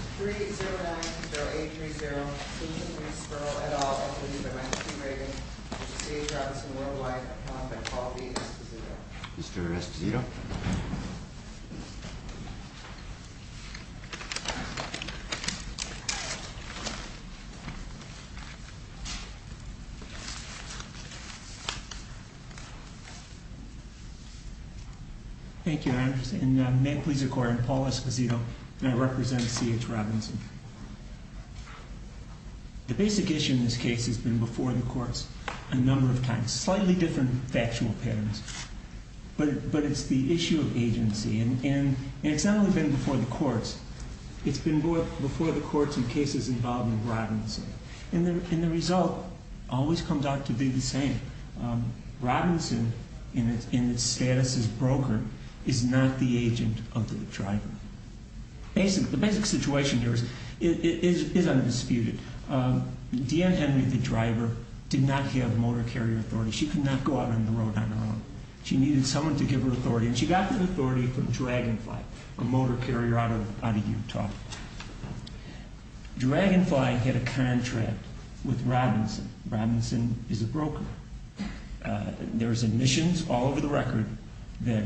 3-0-9-0-8-3-0, Sperl v. Sperl et al., Inc. by Michael T. Reagan, C.H. Robinson Worldwide, Inc. by Paul B. Escovedo. Mr. Escovedo. Thank you, Your Honor, and may it please the Court, I'm Paul Escovedo and I represent C.H. Robinson. The basic issue in this case has been before the courts a number of times. Slightly different factual patterns, but it's the issue of agency. And it's not only been before the courts, it's been before the courts in cases involving Robinson. And the result always comes out to be the same. Robinson, in its status as brokered, is not the agent of the driver. The basic situation here is undisputed. D.N. Henry, the driver, did not have motor carrier authority. She could not go out on the road on her own. She needed someone to give her authority, and she got that authority from Dragonfly, a motor carrier out of Utah. Dragonfly had a contract with Robinson. Robinson is a broker. There's admissions all over the record that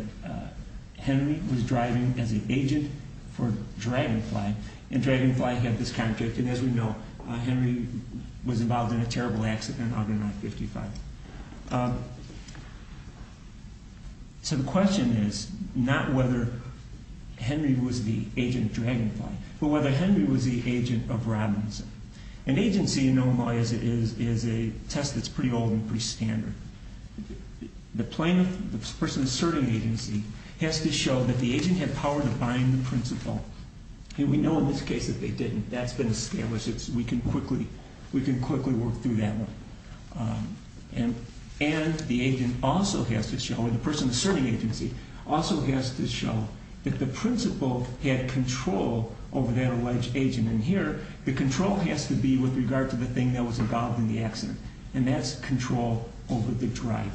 Henry was driving as an agent for Dragonfly. And Dragonfly had this contract, and as we know, Henry was involved in a terrible accident out in I-55. So the question is not whether Henry was the agent of Dragonfly, but whether Henry was the agent of Robinson. And agency, in Illinois, is a test that's pretty old and pretty standard. The plaintiff, the person asserting agency, has to show that the agent had power to bind the principal. And we know in this case that they didn't. That's been established. We can quickly work through that one. And the agent also has to show, or the person asserting agency, also has to show that the principal had control over that alleged agent. And here, the control has to be with regard to the thing that was involved in the accident, and that's control over the driver.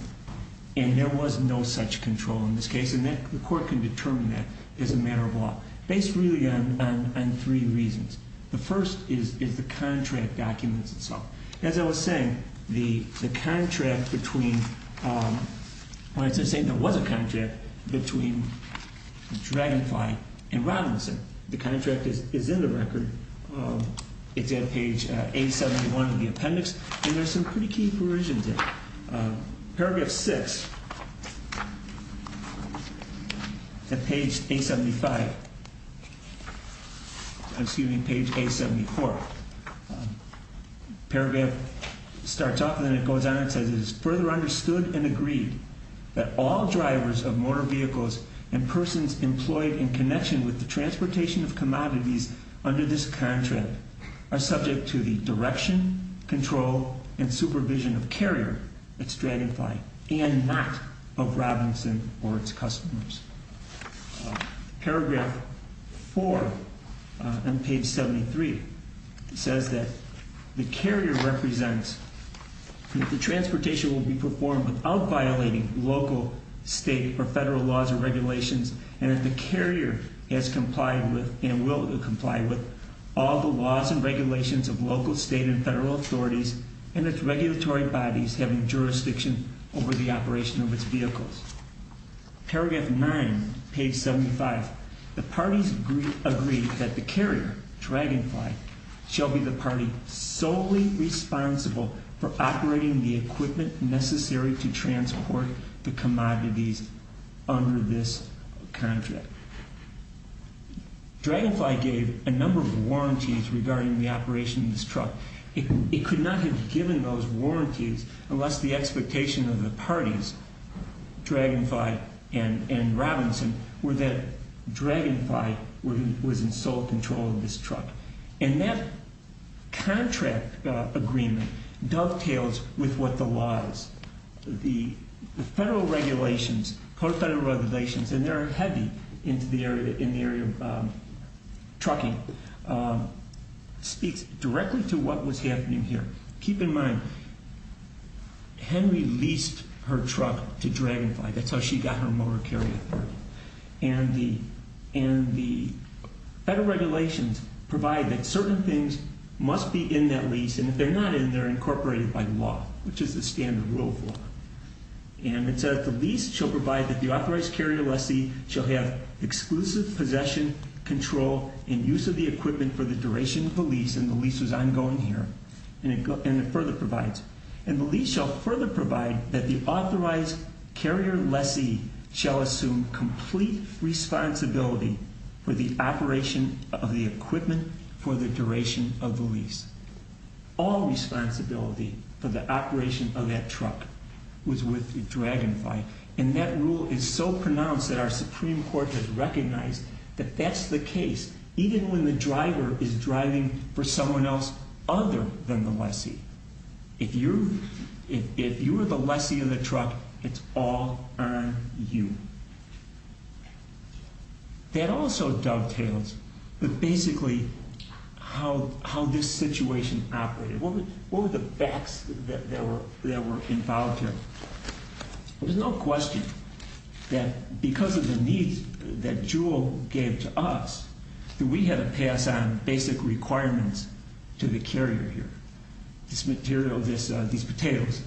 And there was no such control in this case, and the court can determine that as a matter of law. Based really on three reasons. The first is the contract documents itself. As I was saying, the contract between, when I say there was a contract, between Dragonfly and Robinson. The contract is in the record. It's at page 871 in the appendix, and there's some pretty key provisions there. Paragraph 6, at page 875, excuse me, page 874. Paragraph starts off and then it goes on and says, It is further understood and agreed that all drivers of motor vehicles and persons employed in connection with the transportation of commodities under this contract are subject to the direction, control, and supervision of Carrier, that's Dragonfly, and not of Robinson or its customers. Paragraph 4 on page 73 says that the Carrier represents that the transportation will be performed without violating local, state, or federal laws or regulations. And that the Carrier has complied with and will comply with all the laws and regulations of local, state, and federal authorities and its regulatory bodies having jurisdiction over the operation of its vehicles. Paragraph 9, page 75, the parties agree that the Carrier, Dragonfly, shall be the party solely responsible for operating the equipment necessary to transport the commodities under this contract. Dragonfly gave a number of warranties regarding the operation of this truck. It could not have given those warranties unless the expectation of the parties, Dragonfly and Robinson, were that Dragonfly was in sole control of this truck. And that contract agreement dovetails with what the laws, the federal regulations, core federal regulations, and they're heavy in the area of trucking, speaks directly to what was happening here. Keep in mind, Henry leased her truck to Dragonfly. That's how she got her motor carrier. And the federal regulations provide that certain things must be in that lease, and if they're not in, they're incorporated by law, which is the standard rule of law. And it says, the lease shall provide that the authorized carrier lessee shall have exclusive possession, control, and use of the equipment for the duration of the lease, and the lease was ongoing here. And it further provides, and the lease shall further provide that the authorized carrier lessee shall assume complete responsibility for the operation of the equipment for the duration of the lease. All responsibility for the operation of that truck was with Dragonfly. And that rule is so pronounced that our Supreme Court has recognized that that's the case, even when the driver is driving for someone else other than the lessee. If you're the lessee of the truck, it's all on you. That also dovetails with basically how this situation operated. What were the facts that were involved here? There's no question that because of the needs that Jewell gave to us, that we had to pass on basic requirements to the carrier here. This material, these potatoes,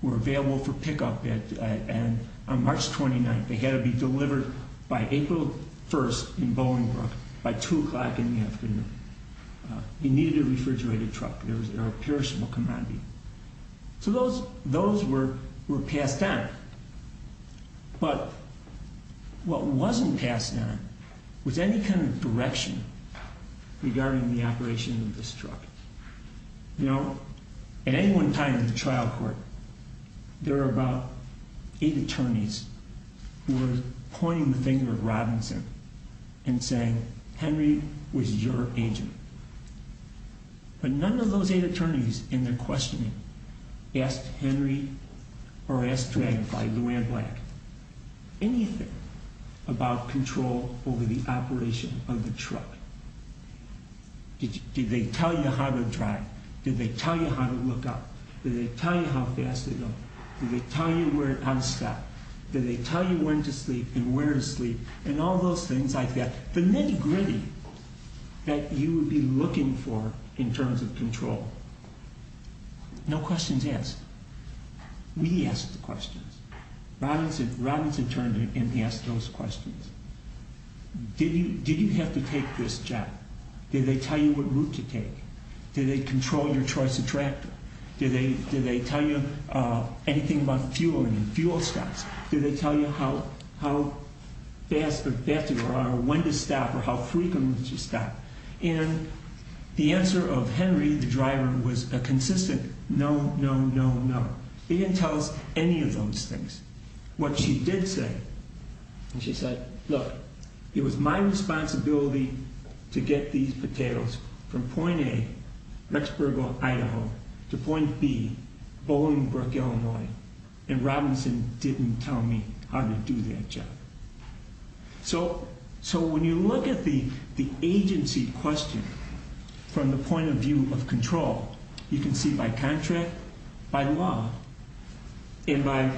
were available for pickup on March 29th. They had to be delivered by April 1st in Bolingbrook by 2 o'clock in the afternoon. You needed a refrigerated truck. There was a perishable commodity. So those were passed on. But what wasn't passed on was any kind of direction regarding the operation of this truck. You know, at any one time in the trial court, there were about eight attorneys who were pointing the finger at Robinson and saying, Henry was your agent. But none of those eight attorneys in their questioning asked Henry or asked Dragonfly, Luann Black, anything about control over the operation of the truck. Did they tell you how to drive? Did they tell you how to look up? Did they tell you how fast to go? Did they tell you how to stop? Did they tell you when to sleep and where to sleep and all those things like that? The nitty-gritty that you would be looking for in terms of control, no questions asked. We asked the questions. Robinson turned and he asked those questions. Did you have to take this job? Did they tell you what route to take? Did they control your choice of tractor? Did they tell you anything about fuel and fuel stops? Did they tell you how fast or when to stop or how frequently to stop? And the answer of Henry, the driver, was a consistent no, no, no, no. He didn't tell us any of those things. What she did say, she said, look, it was my responsibility to get these potatoes from point A, Rexburg, Idaho, to point B, Bolingbrook, Illinois. And Robinson didn't tell me how to do that job. So when you look at the agency question from the point of view of control, you can see by contract, by law, and by,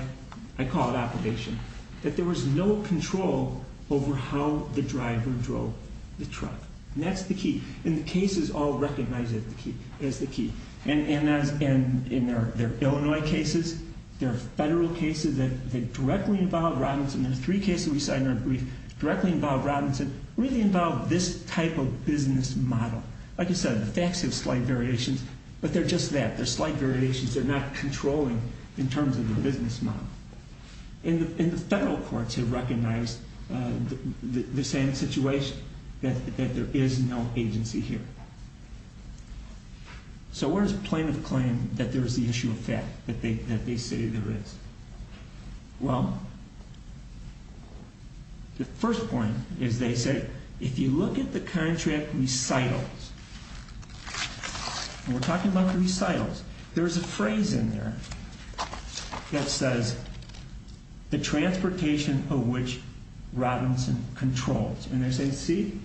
I call it obligation, that there was no control over how the driver drove the truck. And that's the key. And the cases all recognize it as the key. And there are Illinois cases. There are federal cases that directly involve Robinson. And the three cases we cited in our brief directly involve Robinson, really involve this type of business model. Like I said, the facts have slight variations, but they're just that. They're slight variations. They're not controlling in terms of the business model. And the federal courts have recognized the same situation, that there is no agency here. So where does plaintiff claim that there is the issue of fact, that they say there is? Well, the first point is they say, if you look at the contract recitals, and we're talking about the recitals, there's a phrase in there that says, the transportation of which Robinson controls. And they say, see,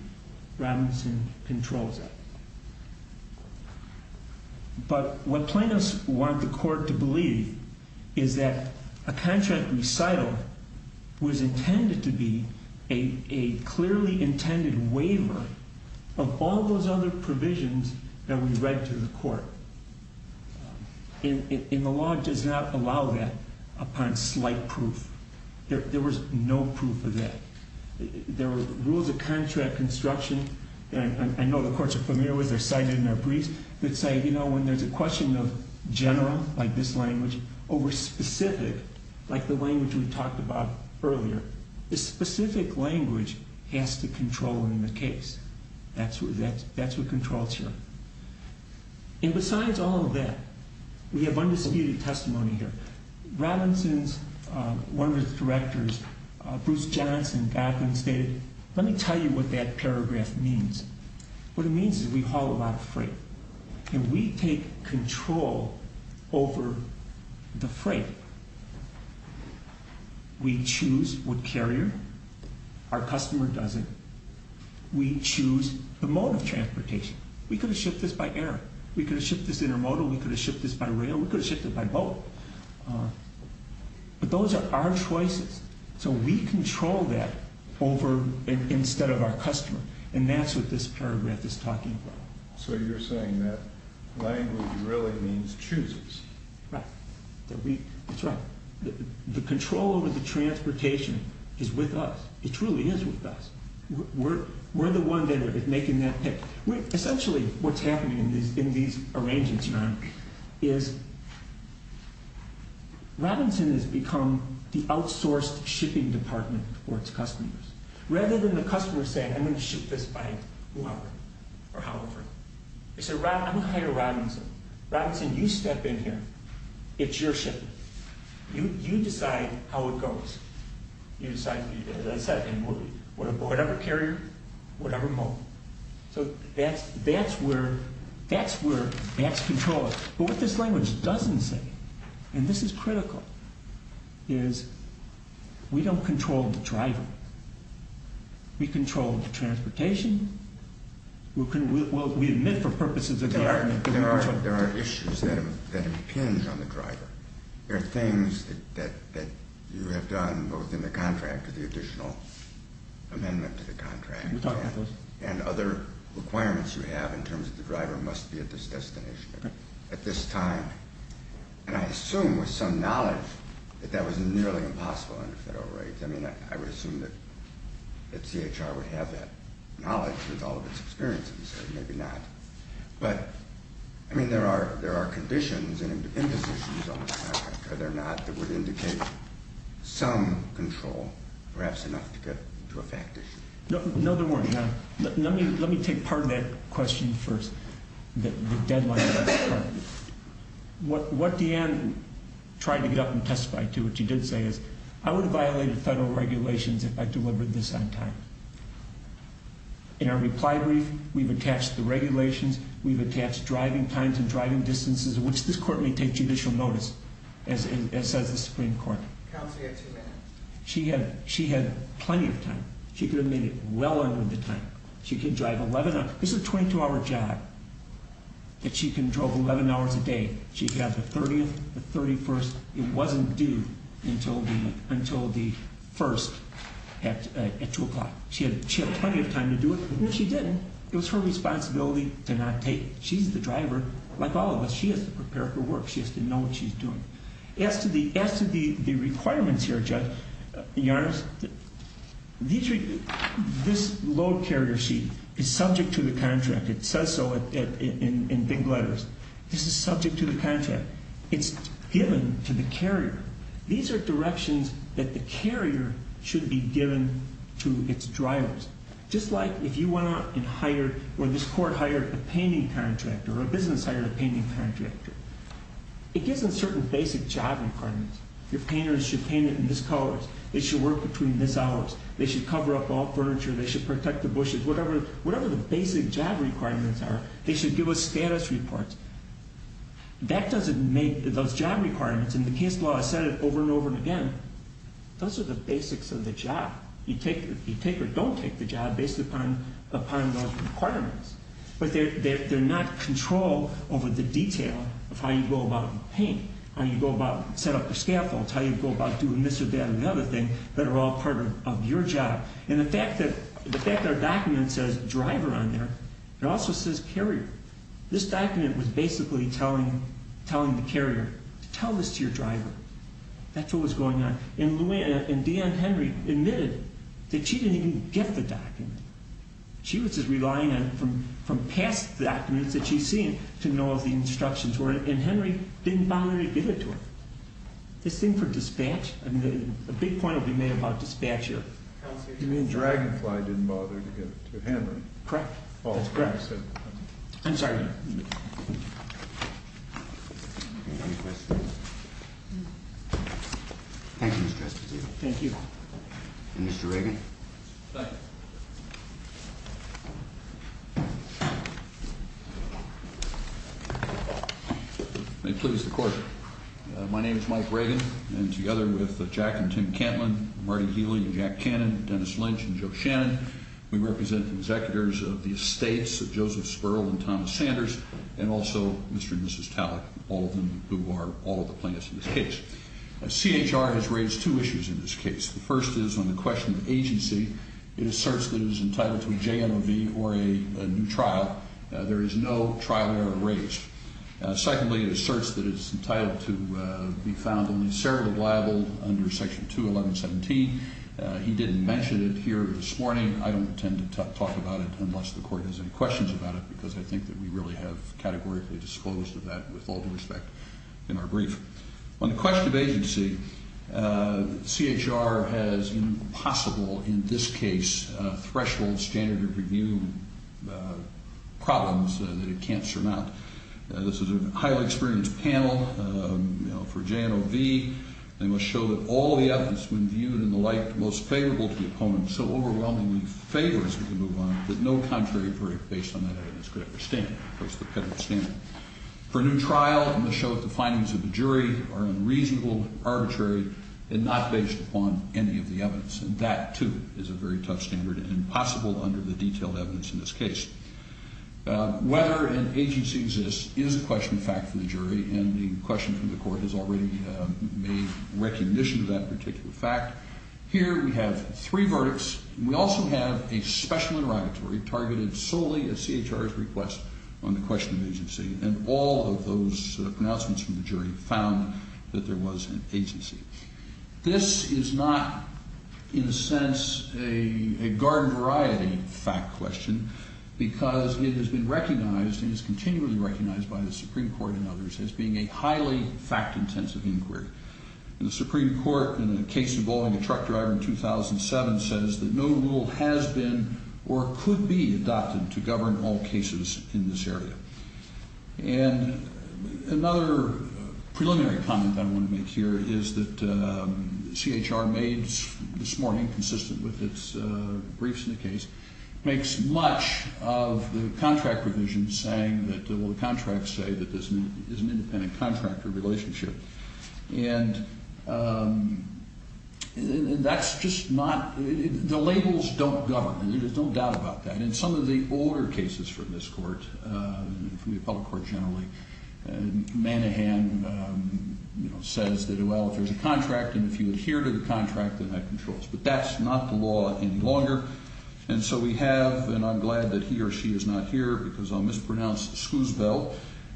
Robinson controls that. But what plaintiffs want the court to believe is that a contract recital was intended to be a clearly intended waiver of all those other provisions that we read to the court. And the law does not allow that upon slight proof. There was no proof of that. There were rules of contract construction that I know the courts are familiar with. They're cited in their briefs that say, you know, when there's a question of general, like this language, or specific, like the language we talked about earlier, the specific language has to control in the case. That's what controls here. And besides all of that, we have undisputed testimony here. Robinson's, one of his directors, Bruce Johnson, back then stated, let me tell you what that paragraph means. What it means is we haul a lot of freight. And we take control over the freight. We choose what carrier. Our customer does it. We choose the mode of transportation. We could have shipped this by air. We could have shipped this intermodal. We could have shipped this by rail. We could have shipped it by boat. But those are our choices. So we control that over, instead of our customer. And that's what this paragraph is talking about. So you're saying that language really means chooses. Right. That we, that's right. The control over the transportation is with us. It truly is with us. We're the one that is making that pick. Essentially, what's happening in these arrangements, John, is Robinson has become the outsourced shipping department for its customers. Rather than the customer saying, I'm going to ship this by whoever or however. I'm going to hire Robinson. Robinson, you step in here. It's your ship. You decide how it goes. Whatever carrier, whatever mode. So that's where that's controlled. But what this language doesn't say, and this is critical, is we don't control the driver. We control the transportation. We admit for purposes of the argument that we control the driver. There are issues that impinge on the driver. There are things that you have done both in the contract, the additional amendment to the contract, and other requirements you have in terms of the driver must be at this destination at this time. And I assume with some knowledge that that was nearly impossible under federal rights. I mean, I would assume that CHR would have that knowledge with all of its experiences. Maybe not. But, I mean, there are conditions and impositions on the contract, are there not, that would indicate some control, perhaps enough to get to a fact issue. No, there weren't. Let me take part of that question first, the deadline. What Deanne tried to get up and testify to, which he did say, is I would have violated federal regulations if I delivered this on time. In our reply brief, we've attached the regulations. We've attached driving times and driving distances, which this court may take judicial notice, as says the Supreme Court. Counsel, you have two minutes. She had plenty of time. She could have made it well under the time. She could drive 11 hours. This is a 22-hour job that she can drive 11 hours a day. She got the 30th, the 31st. It wasn't due until the 1st at 2 o'clock. She had plenty of time to do it. No, she didn't. It was her responsibility to not take. She's the driver. Like all of us, she has to prepare for work. She has to know what she's doing. As to the requirements here, Judge Yarnes, this load carrier sheet is subject to the contract. It says so in big letters. This is subject to the contract. It's given to the carrier. These are directions that the carrier should be given to its drivers. Just like if you went out and hired or this court hired a painting contractor or a business hired a painting contractor, it gives them certain basic job requirements. Your painters should paint it in this color. They should work between this hours. They should cover up all furniture. They should protect the bushes, whatever the basic job requirements are. They should give a status report. That doesn't make those job requirements, and the case law has said it over and over again, those are the basics of the job. You take or don't take the job based upon those requirements. But they're not control over the detail of how you go about painting, how you go about setting up your scaffolds, how you go about doing this or that or another thing that are all part of your job. And the fact that our document says driver on there, it also says carrier. This document was basically telling the carrier to tell this to your driver. That's what was going on. And D.N. Henry admitted that she didn't even get the document. She was just relying on it from past documents that she's seen to know what the instructions were, and Henry didn't bother to give it to her. This thing for dispatch, a big point will be made about dispatch here. You mean Dragonfly didn't bother to get it to Henry? Correct. That's correct. I'm sorry. Thank you, Mr. Justice. Thank you. Mr. Reagan. Thank you. May it please the Court. My name is Mike Reagan. And together with Jack and Tim Cantlin, Marty Healy and Jack Cannon, Dennis Lynch and Joe Shannon, we represent the executors of the estates of Joseph Sperl and Thomas Sanders, and also Mr. and Mrs. Tallick, all of them who are all of the plaintiffs in this case. CHR has raised two issues in this case. The first is on the question of agency. It asserts that it is entitled to a JMOV or a new trial. There is no trial error raised. Secondly, it asserts that it is entitled to be found only severably liable under Section 2117. He didn't mention it here this morning. I don't intend to talk about it unless the Court has any questions about it because I think that we really have categorically disclosed that with all due respect in our brief. On the question of agency, CHR has impossible, in this case, threshold standard of review problems that it can't surmount. This is a highly experienced panel. For JMOV, they must show that all the evidence when viewed in the light most favorable to the opponent so overwhelmingly favors it to move on that no contrary verdict based on that evidence could ever stand. That's the standard. For a new trial, it must show that the findings of the jury are unreasonable, arbitrary, and not based upon any of the evidence. That, too, is a very tough standard and impossible under the detailed evidence in this case. Whether an agency exists is a question of fact for the jury, and the question from the Court has already made recognition of that particular fact. Here we have three verdicts. We also have a special interrogatory targeted solely at CHR's request on the question of agency, and all of those pronouncements from the jury found that there was an agency. This is not, in a sense, a garden variety fact question because it has been recognized and is continually recognized by the Supreme Court and others as being a highly fact-intensive inquiry. The Supreme Court, in a case involving a truck driver in 2007, says that no rule has been or could be adopted to govern all cases in this area. And another preliminary comment I want to make here is that CHR made this morning, consistent with its briefs in the case, makes much of the contract provision saying that, well, the contracts say that there's an independent contractor relationship. And that's just not the labels don't govern. There's no doubt about that. And in some of the older cases from this Court, from the Appellate Court generally, Manahan says that, well, if there's a contract and if you adhere to the contract, then that controls. But that's not the law any longer. And so we have, and I'm glad that he or she is not here because I'll mispronounce, Schoozville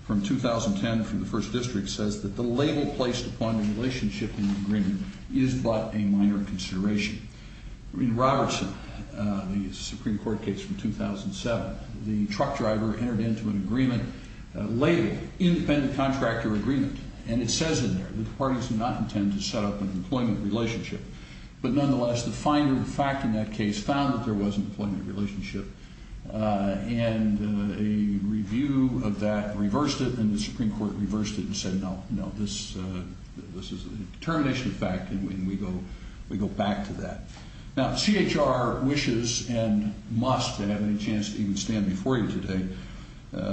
from 2010 from the First District says that the label placed upon the relationship in the agreement is but a minor consideration. In Robertson, the Supreme Court case from 2007, the truck driver entered into an agreement labeled independent contractor agreement. And it says in there that the parties do not intend to set up an employment relationship. But nonetheless, the finder of the fact in that case found that there was an employment relationship. And a review of that reversed it, and the Supreme Court reversed it and said, no, no, this is a determination of fact, and we go back to that. Now, CHR wishes and must, and I haven't had a chance to even stand before you today,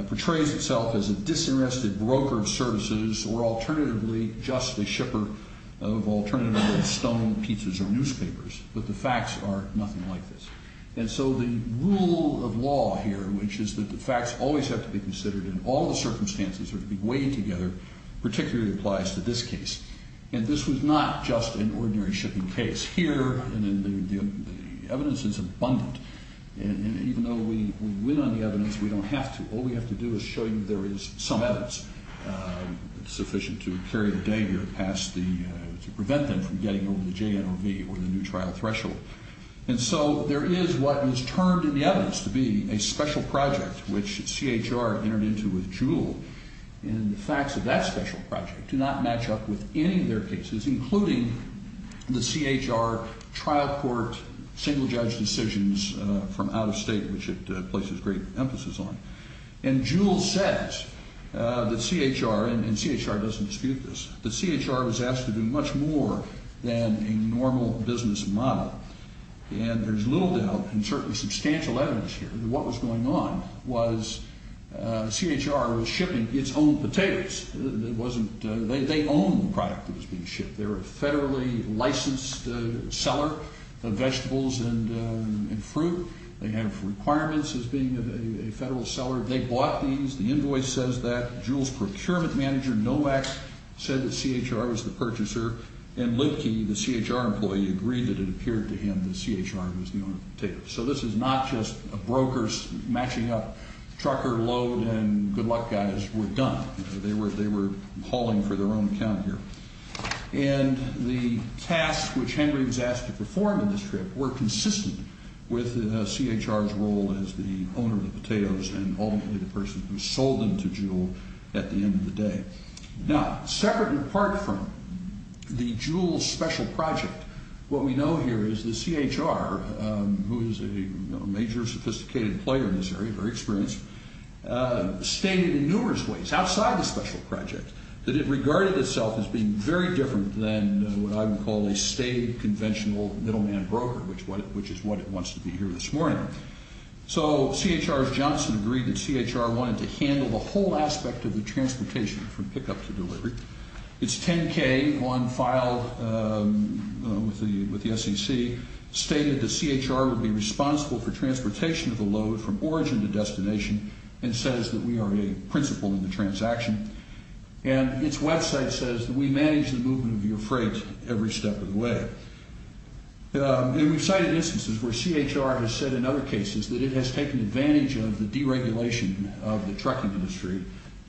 portrays itself as a disinterested broker of services or alternatively just a shipper of alternatively stolen pizzas or newspapers. But the facts are nothing like this. And so the rule of law here, which is that the facts always have to be considered and all the circumstances have to be weighed together, particularly applies to this case. And this was not just an ordinary shipping case. Here, the evidence is abundant. And even though we win on the evidence, we don't have to. All we have to do is show you there is some evidence sufficient to carry the day here to prevent them from getting over the JNRV or the new trial threshold. And so there is what is termed in the evidence to be a special project which CHR entered into with Jewell. And the facts of that special project do not match up with any of their cases, including the CHR trial court single-judge decisions from out of state, which it places great emphasis on. And Jewell says that CHR, and CHR doesn't dispute this, that CHR was asked to do much more than a normal business model. And there's little doubt and certainly substantial evidence here that what was going on was CHR was shipping its own potatoes. It wasn't they owned the product that was being shipped. They were a federally licensed seller of vegetables and fruit. They have requirements as being a federal seller. They bought these. The invoice says that. Jewell's procurement manager, NOMAC, said that CHR was the purchaser. And Lidke, the CHR employee, agreed that it appeared to him that CHR was the owner of the potatoes. So this is not just brokers matching up trucker load and good luck guys. We're done. They were calling for their own account here. And the tasks which Henry was asked to perform in this trip were consistent with CHR's role as the owner of the potatoes and ultimately the person who sold them to Jewell at the end of the day. Now, separate and apart from the Jewell special project, what we know here is that CHR, who is a major sophisticated player in this area, very experienced, stated in numerous ways outside the special project that it regarded itself as being very different than what I would call a state conventional middleman broker, which is what it wants to be here this morning. So CHR's Johnson agreed that CHR wanted to handle the whole aspect of the transportation from pickup to delivery. Its 10-K on file with the SEC stated that CHR would be responsible for transportation of the load from origin to destination and says that we are a principle in the transaction. And its website says that we manage the movement of your freight every step of the way. And we've cited instances where CHR has said in other cases that it has taken advantage of the deregulation of the trucking industry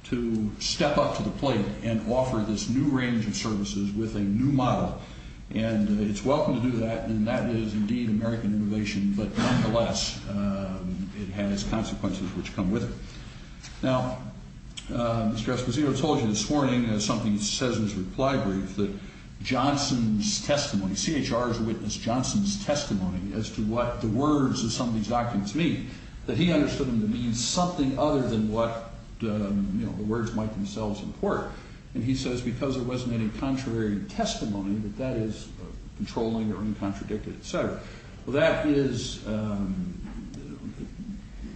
to step up to the plate and offer this new range of services with a new model. And it's welcome to do that, and that is indeed American innovation, but nonetheless, it has consequences which come with it. Now, Mr. Esposito told you this morning in something he says in his reply brief that Johnson's testimony, CHR's witness Johnson's testimony as to what the words of some of these documents mean, that he understood them to mean something other than what the words might themselves import. And he says because there wasn't any contrary testimony that that is controlling or uncontradicted, et cetera. Well, that is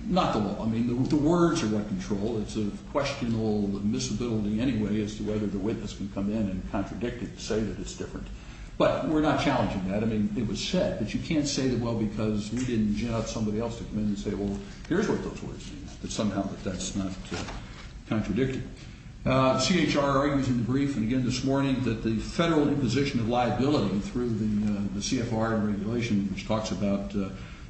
not the law. I mean, the words are what control. It's a questionable admissibility anyway as to whether the witness can come in and contradict it and say that it's different. But we're not challenging that. I mean, it was said, but you can't say that, well, because we didn't get somebody else to come in and say, well, here's what those words mean, that somehow that that's not contradicted. CHR argues in the brief, and again this morning, that the federal imposition of liability through the CFR regulation, which talks about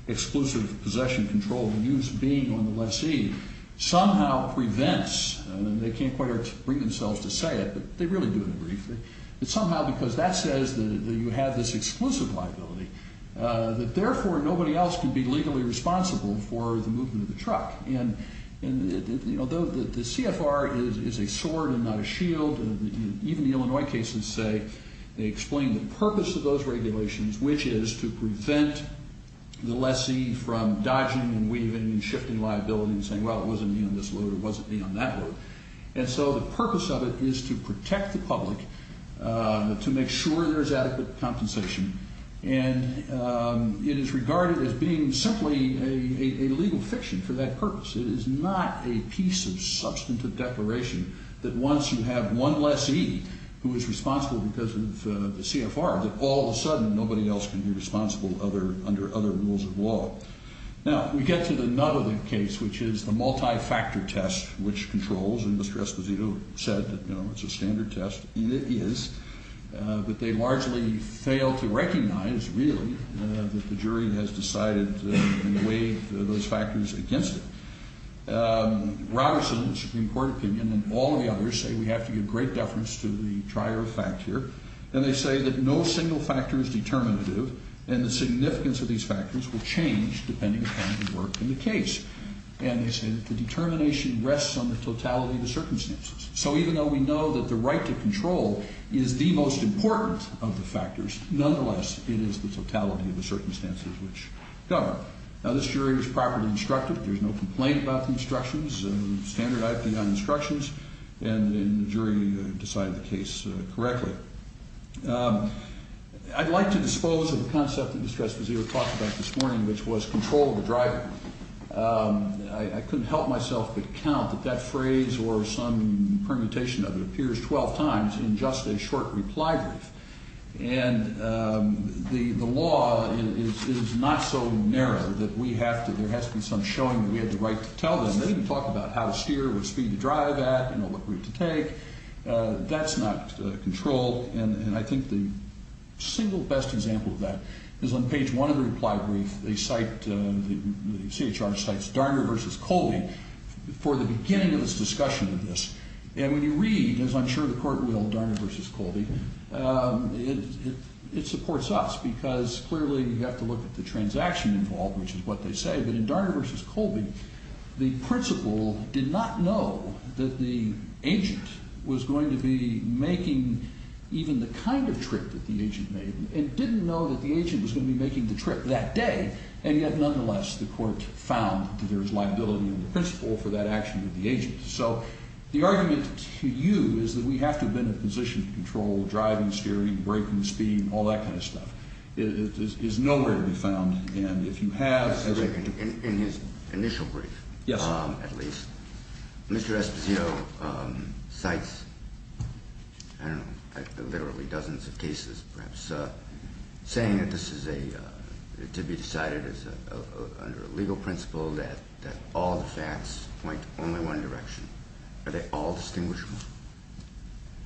exclusive possession control and use being on the lessee, somehow prevents, and they can't quite bring themselves to say it, but they really do in the brief, that somehow because that says that you have this exclusive liability, that therefore nobody else can be legally responsible for the movement of the truck. And, you know, the CFR is a sword and not a shield. Even the Illinois cases say they explain the purpose of those regulations, which is to prevent the lessee from dodging and weaving and shifting liability and saying, well, it wasn't me on this load or it wasn't me on that load. And so the purpose of it is to protect the public, to make sure there's adequate compensation, and it is regarded as being simply a legal fiction for that purpose. It is not a piece of substantive declaration that once you have one lessee who is responsible because of the CFR, that all of a sudden nobody else can be responsible under other rules of law. Now, we get to the nut of the case, which is the multi-factor test, which controls, and Mr. Esposito said that, you know, it's a standard test, and it is, but they largely fail to recognize, really, that the jury has decided to weigh those factors against it. Robertson, the Supreme Court opinion, and all of the others say we have to give great deference to the trier of fact here, and they say that no single factor is determinative, and the significance of these factors will change depending upon the work in the case, and they say that the determination rests on the totality of the circumstances. So even though we know that the right to control is the most important of the factors, nonetheless, it is the totality of the circumstances which govern. Now, this jury was properly instructed. There's no complaint about the instructions and standard IP on instructions, and the jury decided the case correctly. I'd like to dispose of the concept that Mr. Esposito talked about this morning, which was control of the driver. I couldn't help myself but count that that phrase or some permutation of it appears 12 times in just a short reply brief, and the law is not so narrow that there has to be some showing that we have the right to tell them. They didn't talk about how to steer, what speed to drive at, what route to take. That's not control, and I think the single best example of that is on page one of the reply brief. The CHR cites Darner v. Colby for the beginning of its discussion of this, and when you read, as I'm sure the court will, Darner v. Colby, it supports us because clearly you have to look at the transaction involved, which is what they say, but in Darner v. Colby, the principal did not know that the agent was going to be making even the kind of trip that the agent made and didn't know that the agent was going to be making the trip that day, and yet, nonetheless, the court found that there was liability on the principal for that action with the agent. So the argument to you is that we have to have been in a position to control driving, steering, braking, speed, and all that kind of stuff. It is nowhere to be found, and if you have… In his initial brief, at least, Mr. Esposito cites, I don't know, literally dozens of cases perhaps, saying that this is to be decided under a legal principle that all the facts point only one direction. Are they all distinguishable?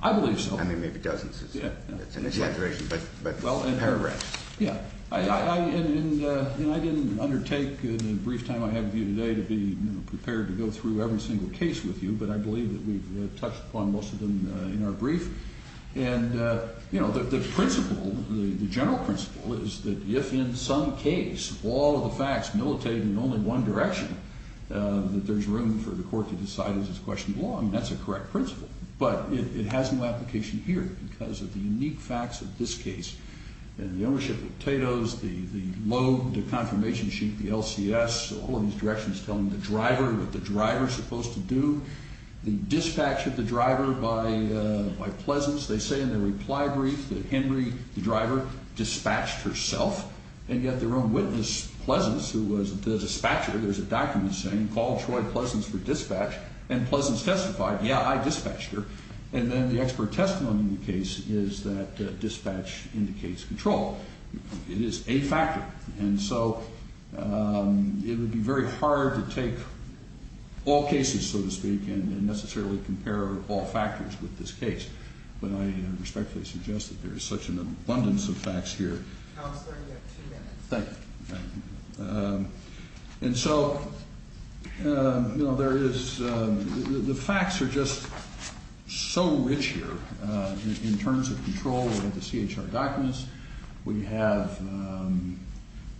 I believe so. I mean, maybe dozens is an exaggeration, but it's a paragraph. Yeah, and I didn't undertake in the brief time I have with you today to be prepared to go through every single case with you, but I believe that we've touched upon most of them in our brief, and, you know, the principle, the general principle is that if in some case all of the facts militate in only one direction, that there's room for the court to decide as it's questioned along. That's a correct principle, but it has no application here because of the unique facts of this case and the ownership of the potatoes, the load, the confirmation sheet, the LCS, all of these directions telling the driver what the driver is supposed to do, the dispatch of the driver by Pleasance. They say in their reply brief that Henry, the driver, dispatched herself, and yet their own witness, Pleasance, who was the dispatcher, there's a document saying, called Troy Pleasance for dispatch, and Pleasance testified, yeah, I dispatched her. And then the expert testimony in the case is that dispatch indicates control. It is a factor. And so it would be very hard to take all cases, so to speak, and necessarily compare all factors with this case, but I respectfully suggest that there is such an abundance of facts here. Counselor, you have two minutes. Thank you. And so, you know, there is the facts are just so rich here in terms of control. We have the CHR documents. We have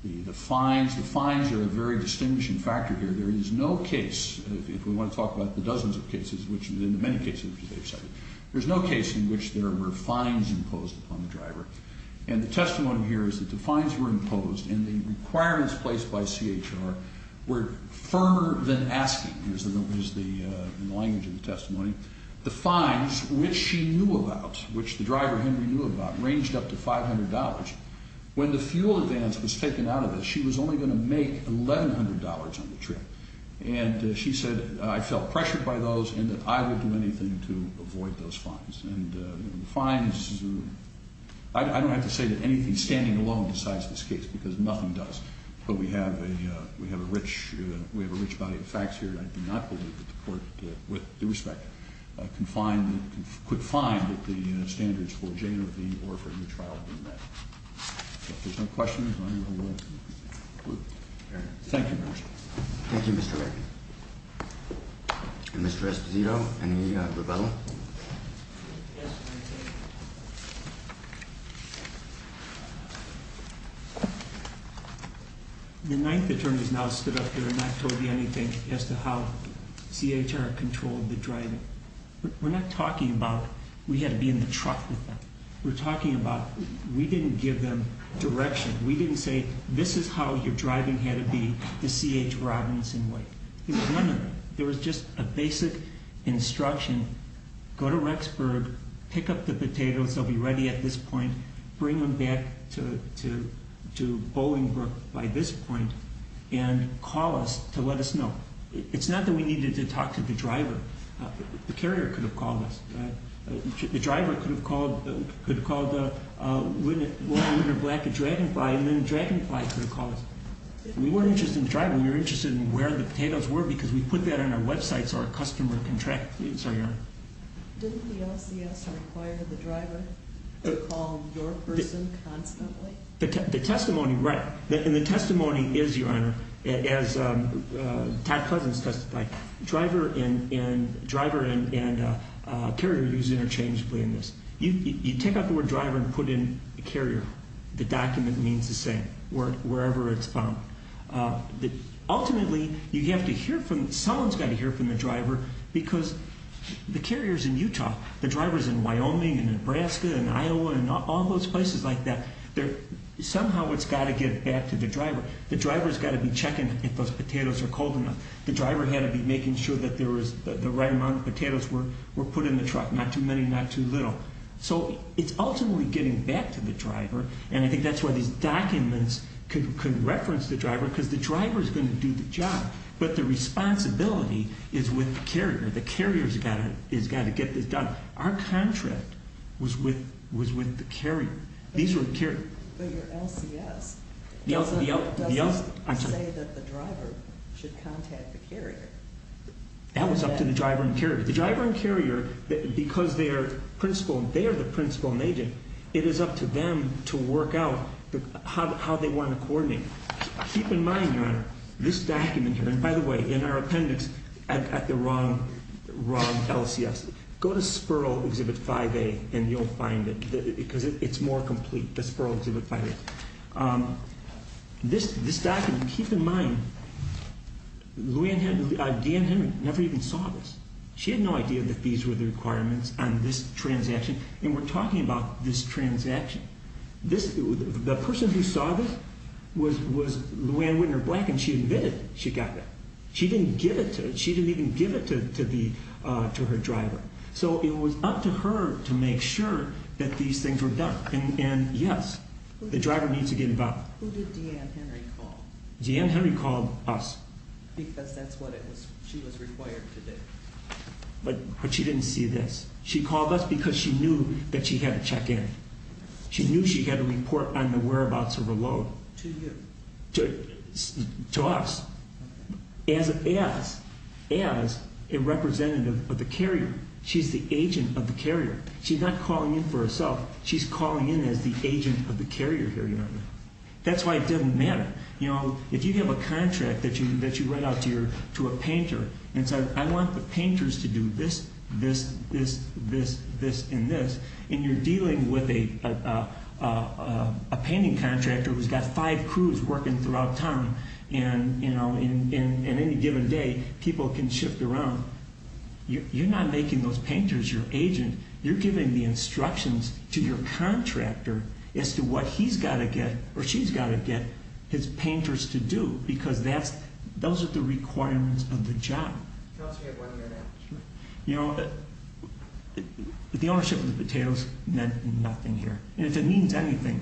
the fines. The fines are a very distinguishing factor here. There is no case, if we want to talk about the dozens of cases, which in the many cases which they've cited, there's no case in which there were fines imposed upon the driver. And the testimony here is that the fines were imposed, and the requirements placed by CHR were firmer than asking, in the language of the testimony, the fines, which she knew about, which the driver Henry knew about, ranged up to $500. When the fuel advance was taken out of it, she was only going to make $1,100 on the trip. And she said, I felt pressured by those and that I would do anything to avoid those fines. And the fines, I don't have to say that anything standing alone decides this case because nothing does. But we have a rich body of facts here, and I do not believe that the court, with due respect, could find that the standards for J and V or for any trial have been met. If there's no questions, I'm going to move. Thank you, Your Honor. Thank you, Mr. Reagan. And Mr. Esposito, any rebuttal? Yes, Your Honor. The Ninth Attorney has now stood up here and not told me anything as to how CHR controlled the driving. We're not talking about we had to be in the truck with them. We're talking about we didn't give them direction. We didn't say, this is how your driving had to be, the CH Robinson way. There was just a basic instruction, go to Rexburg, pick up the potatoes, they'll be ready at this point, bring them back to Bolingbrook by this point, and call us to let us know. It's not that we needed to talk to the driver. The carrier could have called us. The driver could have called Walter Winter Black at Dragonfly, and then Dragonfly could have called us. We weren't interested in the driver. We were interested in where the potatoes were because we put that on our website so our customer could track it. Sorry, Your Honor. Didn't the LCS require the driver to call your person constantly? The testimony, right. And the testimony is, Your Honor, as Todd Cousins testified, driver and carrier are used interchangeably in this. You take out the word driver and put in carrier. The document means the same, wherever it's found. Ultimately, you have to hear from, someone's got to hear from the driver because the carrier's in Utah. The driver's in Wyoming and Nebraska and Iowa and all those places like that. Somehow it's got to get back to the driver. The driver's got to be checking if those potatoes are cold enough. The driver had to be making sure that the right amount of potatoes were put in the truck, not too many, not too little. So it's ultimately getting back to the driver. And I think that's why these documents could reference the driver because the driver's going to do the job. But the responsibility is with the carrier. The carrier's got to get this done. Our contract was with the carrier. These were the carrier. But your LCS doesn't say that the driver should contact the carrier. That was up to the driver and carrier. The driver and carrier, because they are the principal and agent, it is up to them to work out how they want to coordinate. Keep in mind, Your Honor, this document here, and by the way, in our appendix at the wrong LCS. Go to Spurl Exhibit 5A and you'll find it because it's more complete, the Spurl Exhibit 5A. This document, keep in mind, D'Ann Henry never even saw this. She had no idea that these were the requirements on this transaction. And we're talking about this transaction. The person who saw this was Luann Whitner Black and she admitted she got that. She didn't give it to her driver. So it was up to her to make sure that these things were done. And, yes, the driver needs to get involved. Who did D'Ann Henry call? D'Ann Henry called us. Because that's what she was required to do. But she didn't see this. She called us because she knew that she had to check in. She knew she had to report on the whereabouts of a load. To you. To us. As a representative of the carrier. She's the agent of the carrier. She's not calling in for herself. She's calling in as the agent of the carrier here, Your Honor. That's why it doesn't matter. You know, if you have a contract that you write out to a painter and say, I want the painters to do this, this, this, this, this, and this. And you're dealing with a painting contractor who's got five crews working throughout town. And, you know, in any given day people can shift around. You're not making those painters your agent. You're giving the instructions to your contractor as to what he's got to get or she's got to get his painters to do because those are the requirements of the job. Tell us we have one here now. You know, the ownership of the potatoes meant nothing here. And if it means anything,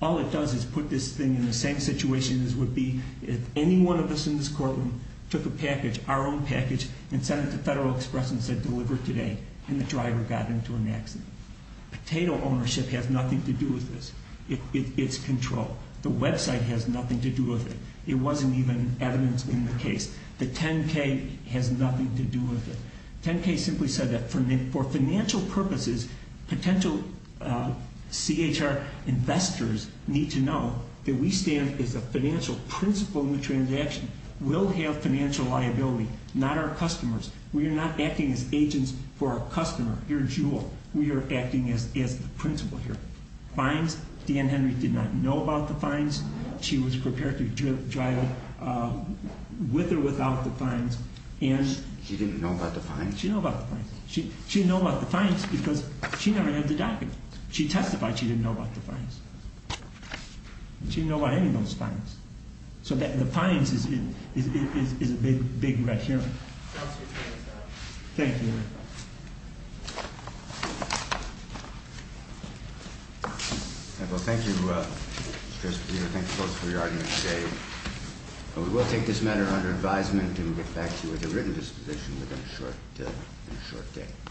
all it does is put this thing in the same situation as would be if any one of us in this courtroom took a package, our own package, and sent it to Federal Express and said deliver it today, and the driver got into an accident. Potato ownership has nothing to do with this. It's control. The website has nothing to do with it. It wasn't even evidence in the case. The 10-K has nothing to do with it. 10-K simply said that for financial purposes, potential CHR investors need to know that we stand as a financial principle in the transaction. We'll have financial liability, not our customers. We are not acting as agents for our customer. You're a jewel. We are acting as the principle here. Fines, Dan Henry did not know about the fines. She was prepared to drive with or without the fines. She didn't know about the fines? She didn't know about the fines. She didn't know about the fines because she never had the document. She testified she didn't know about the fines. She didn't know about any of those fines. So the fines is a big, big red herring. Thank you. Well, thank you, Mr. Secretary. Thank you both for your audience today. We will take this matter under advisement and get back to you with a written disposition within a short day.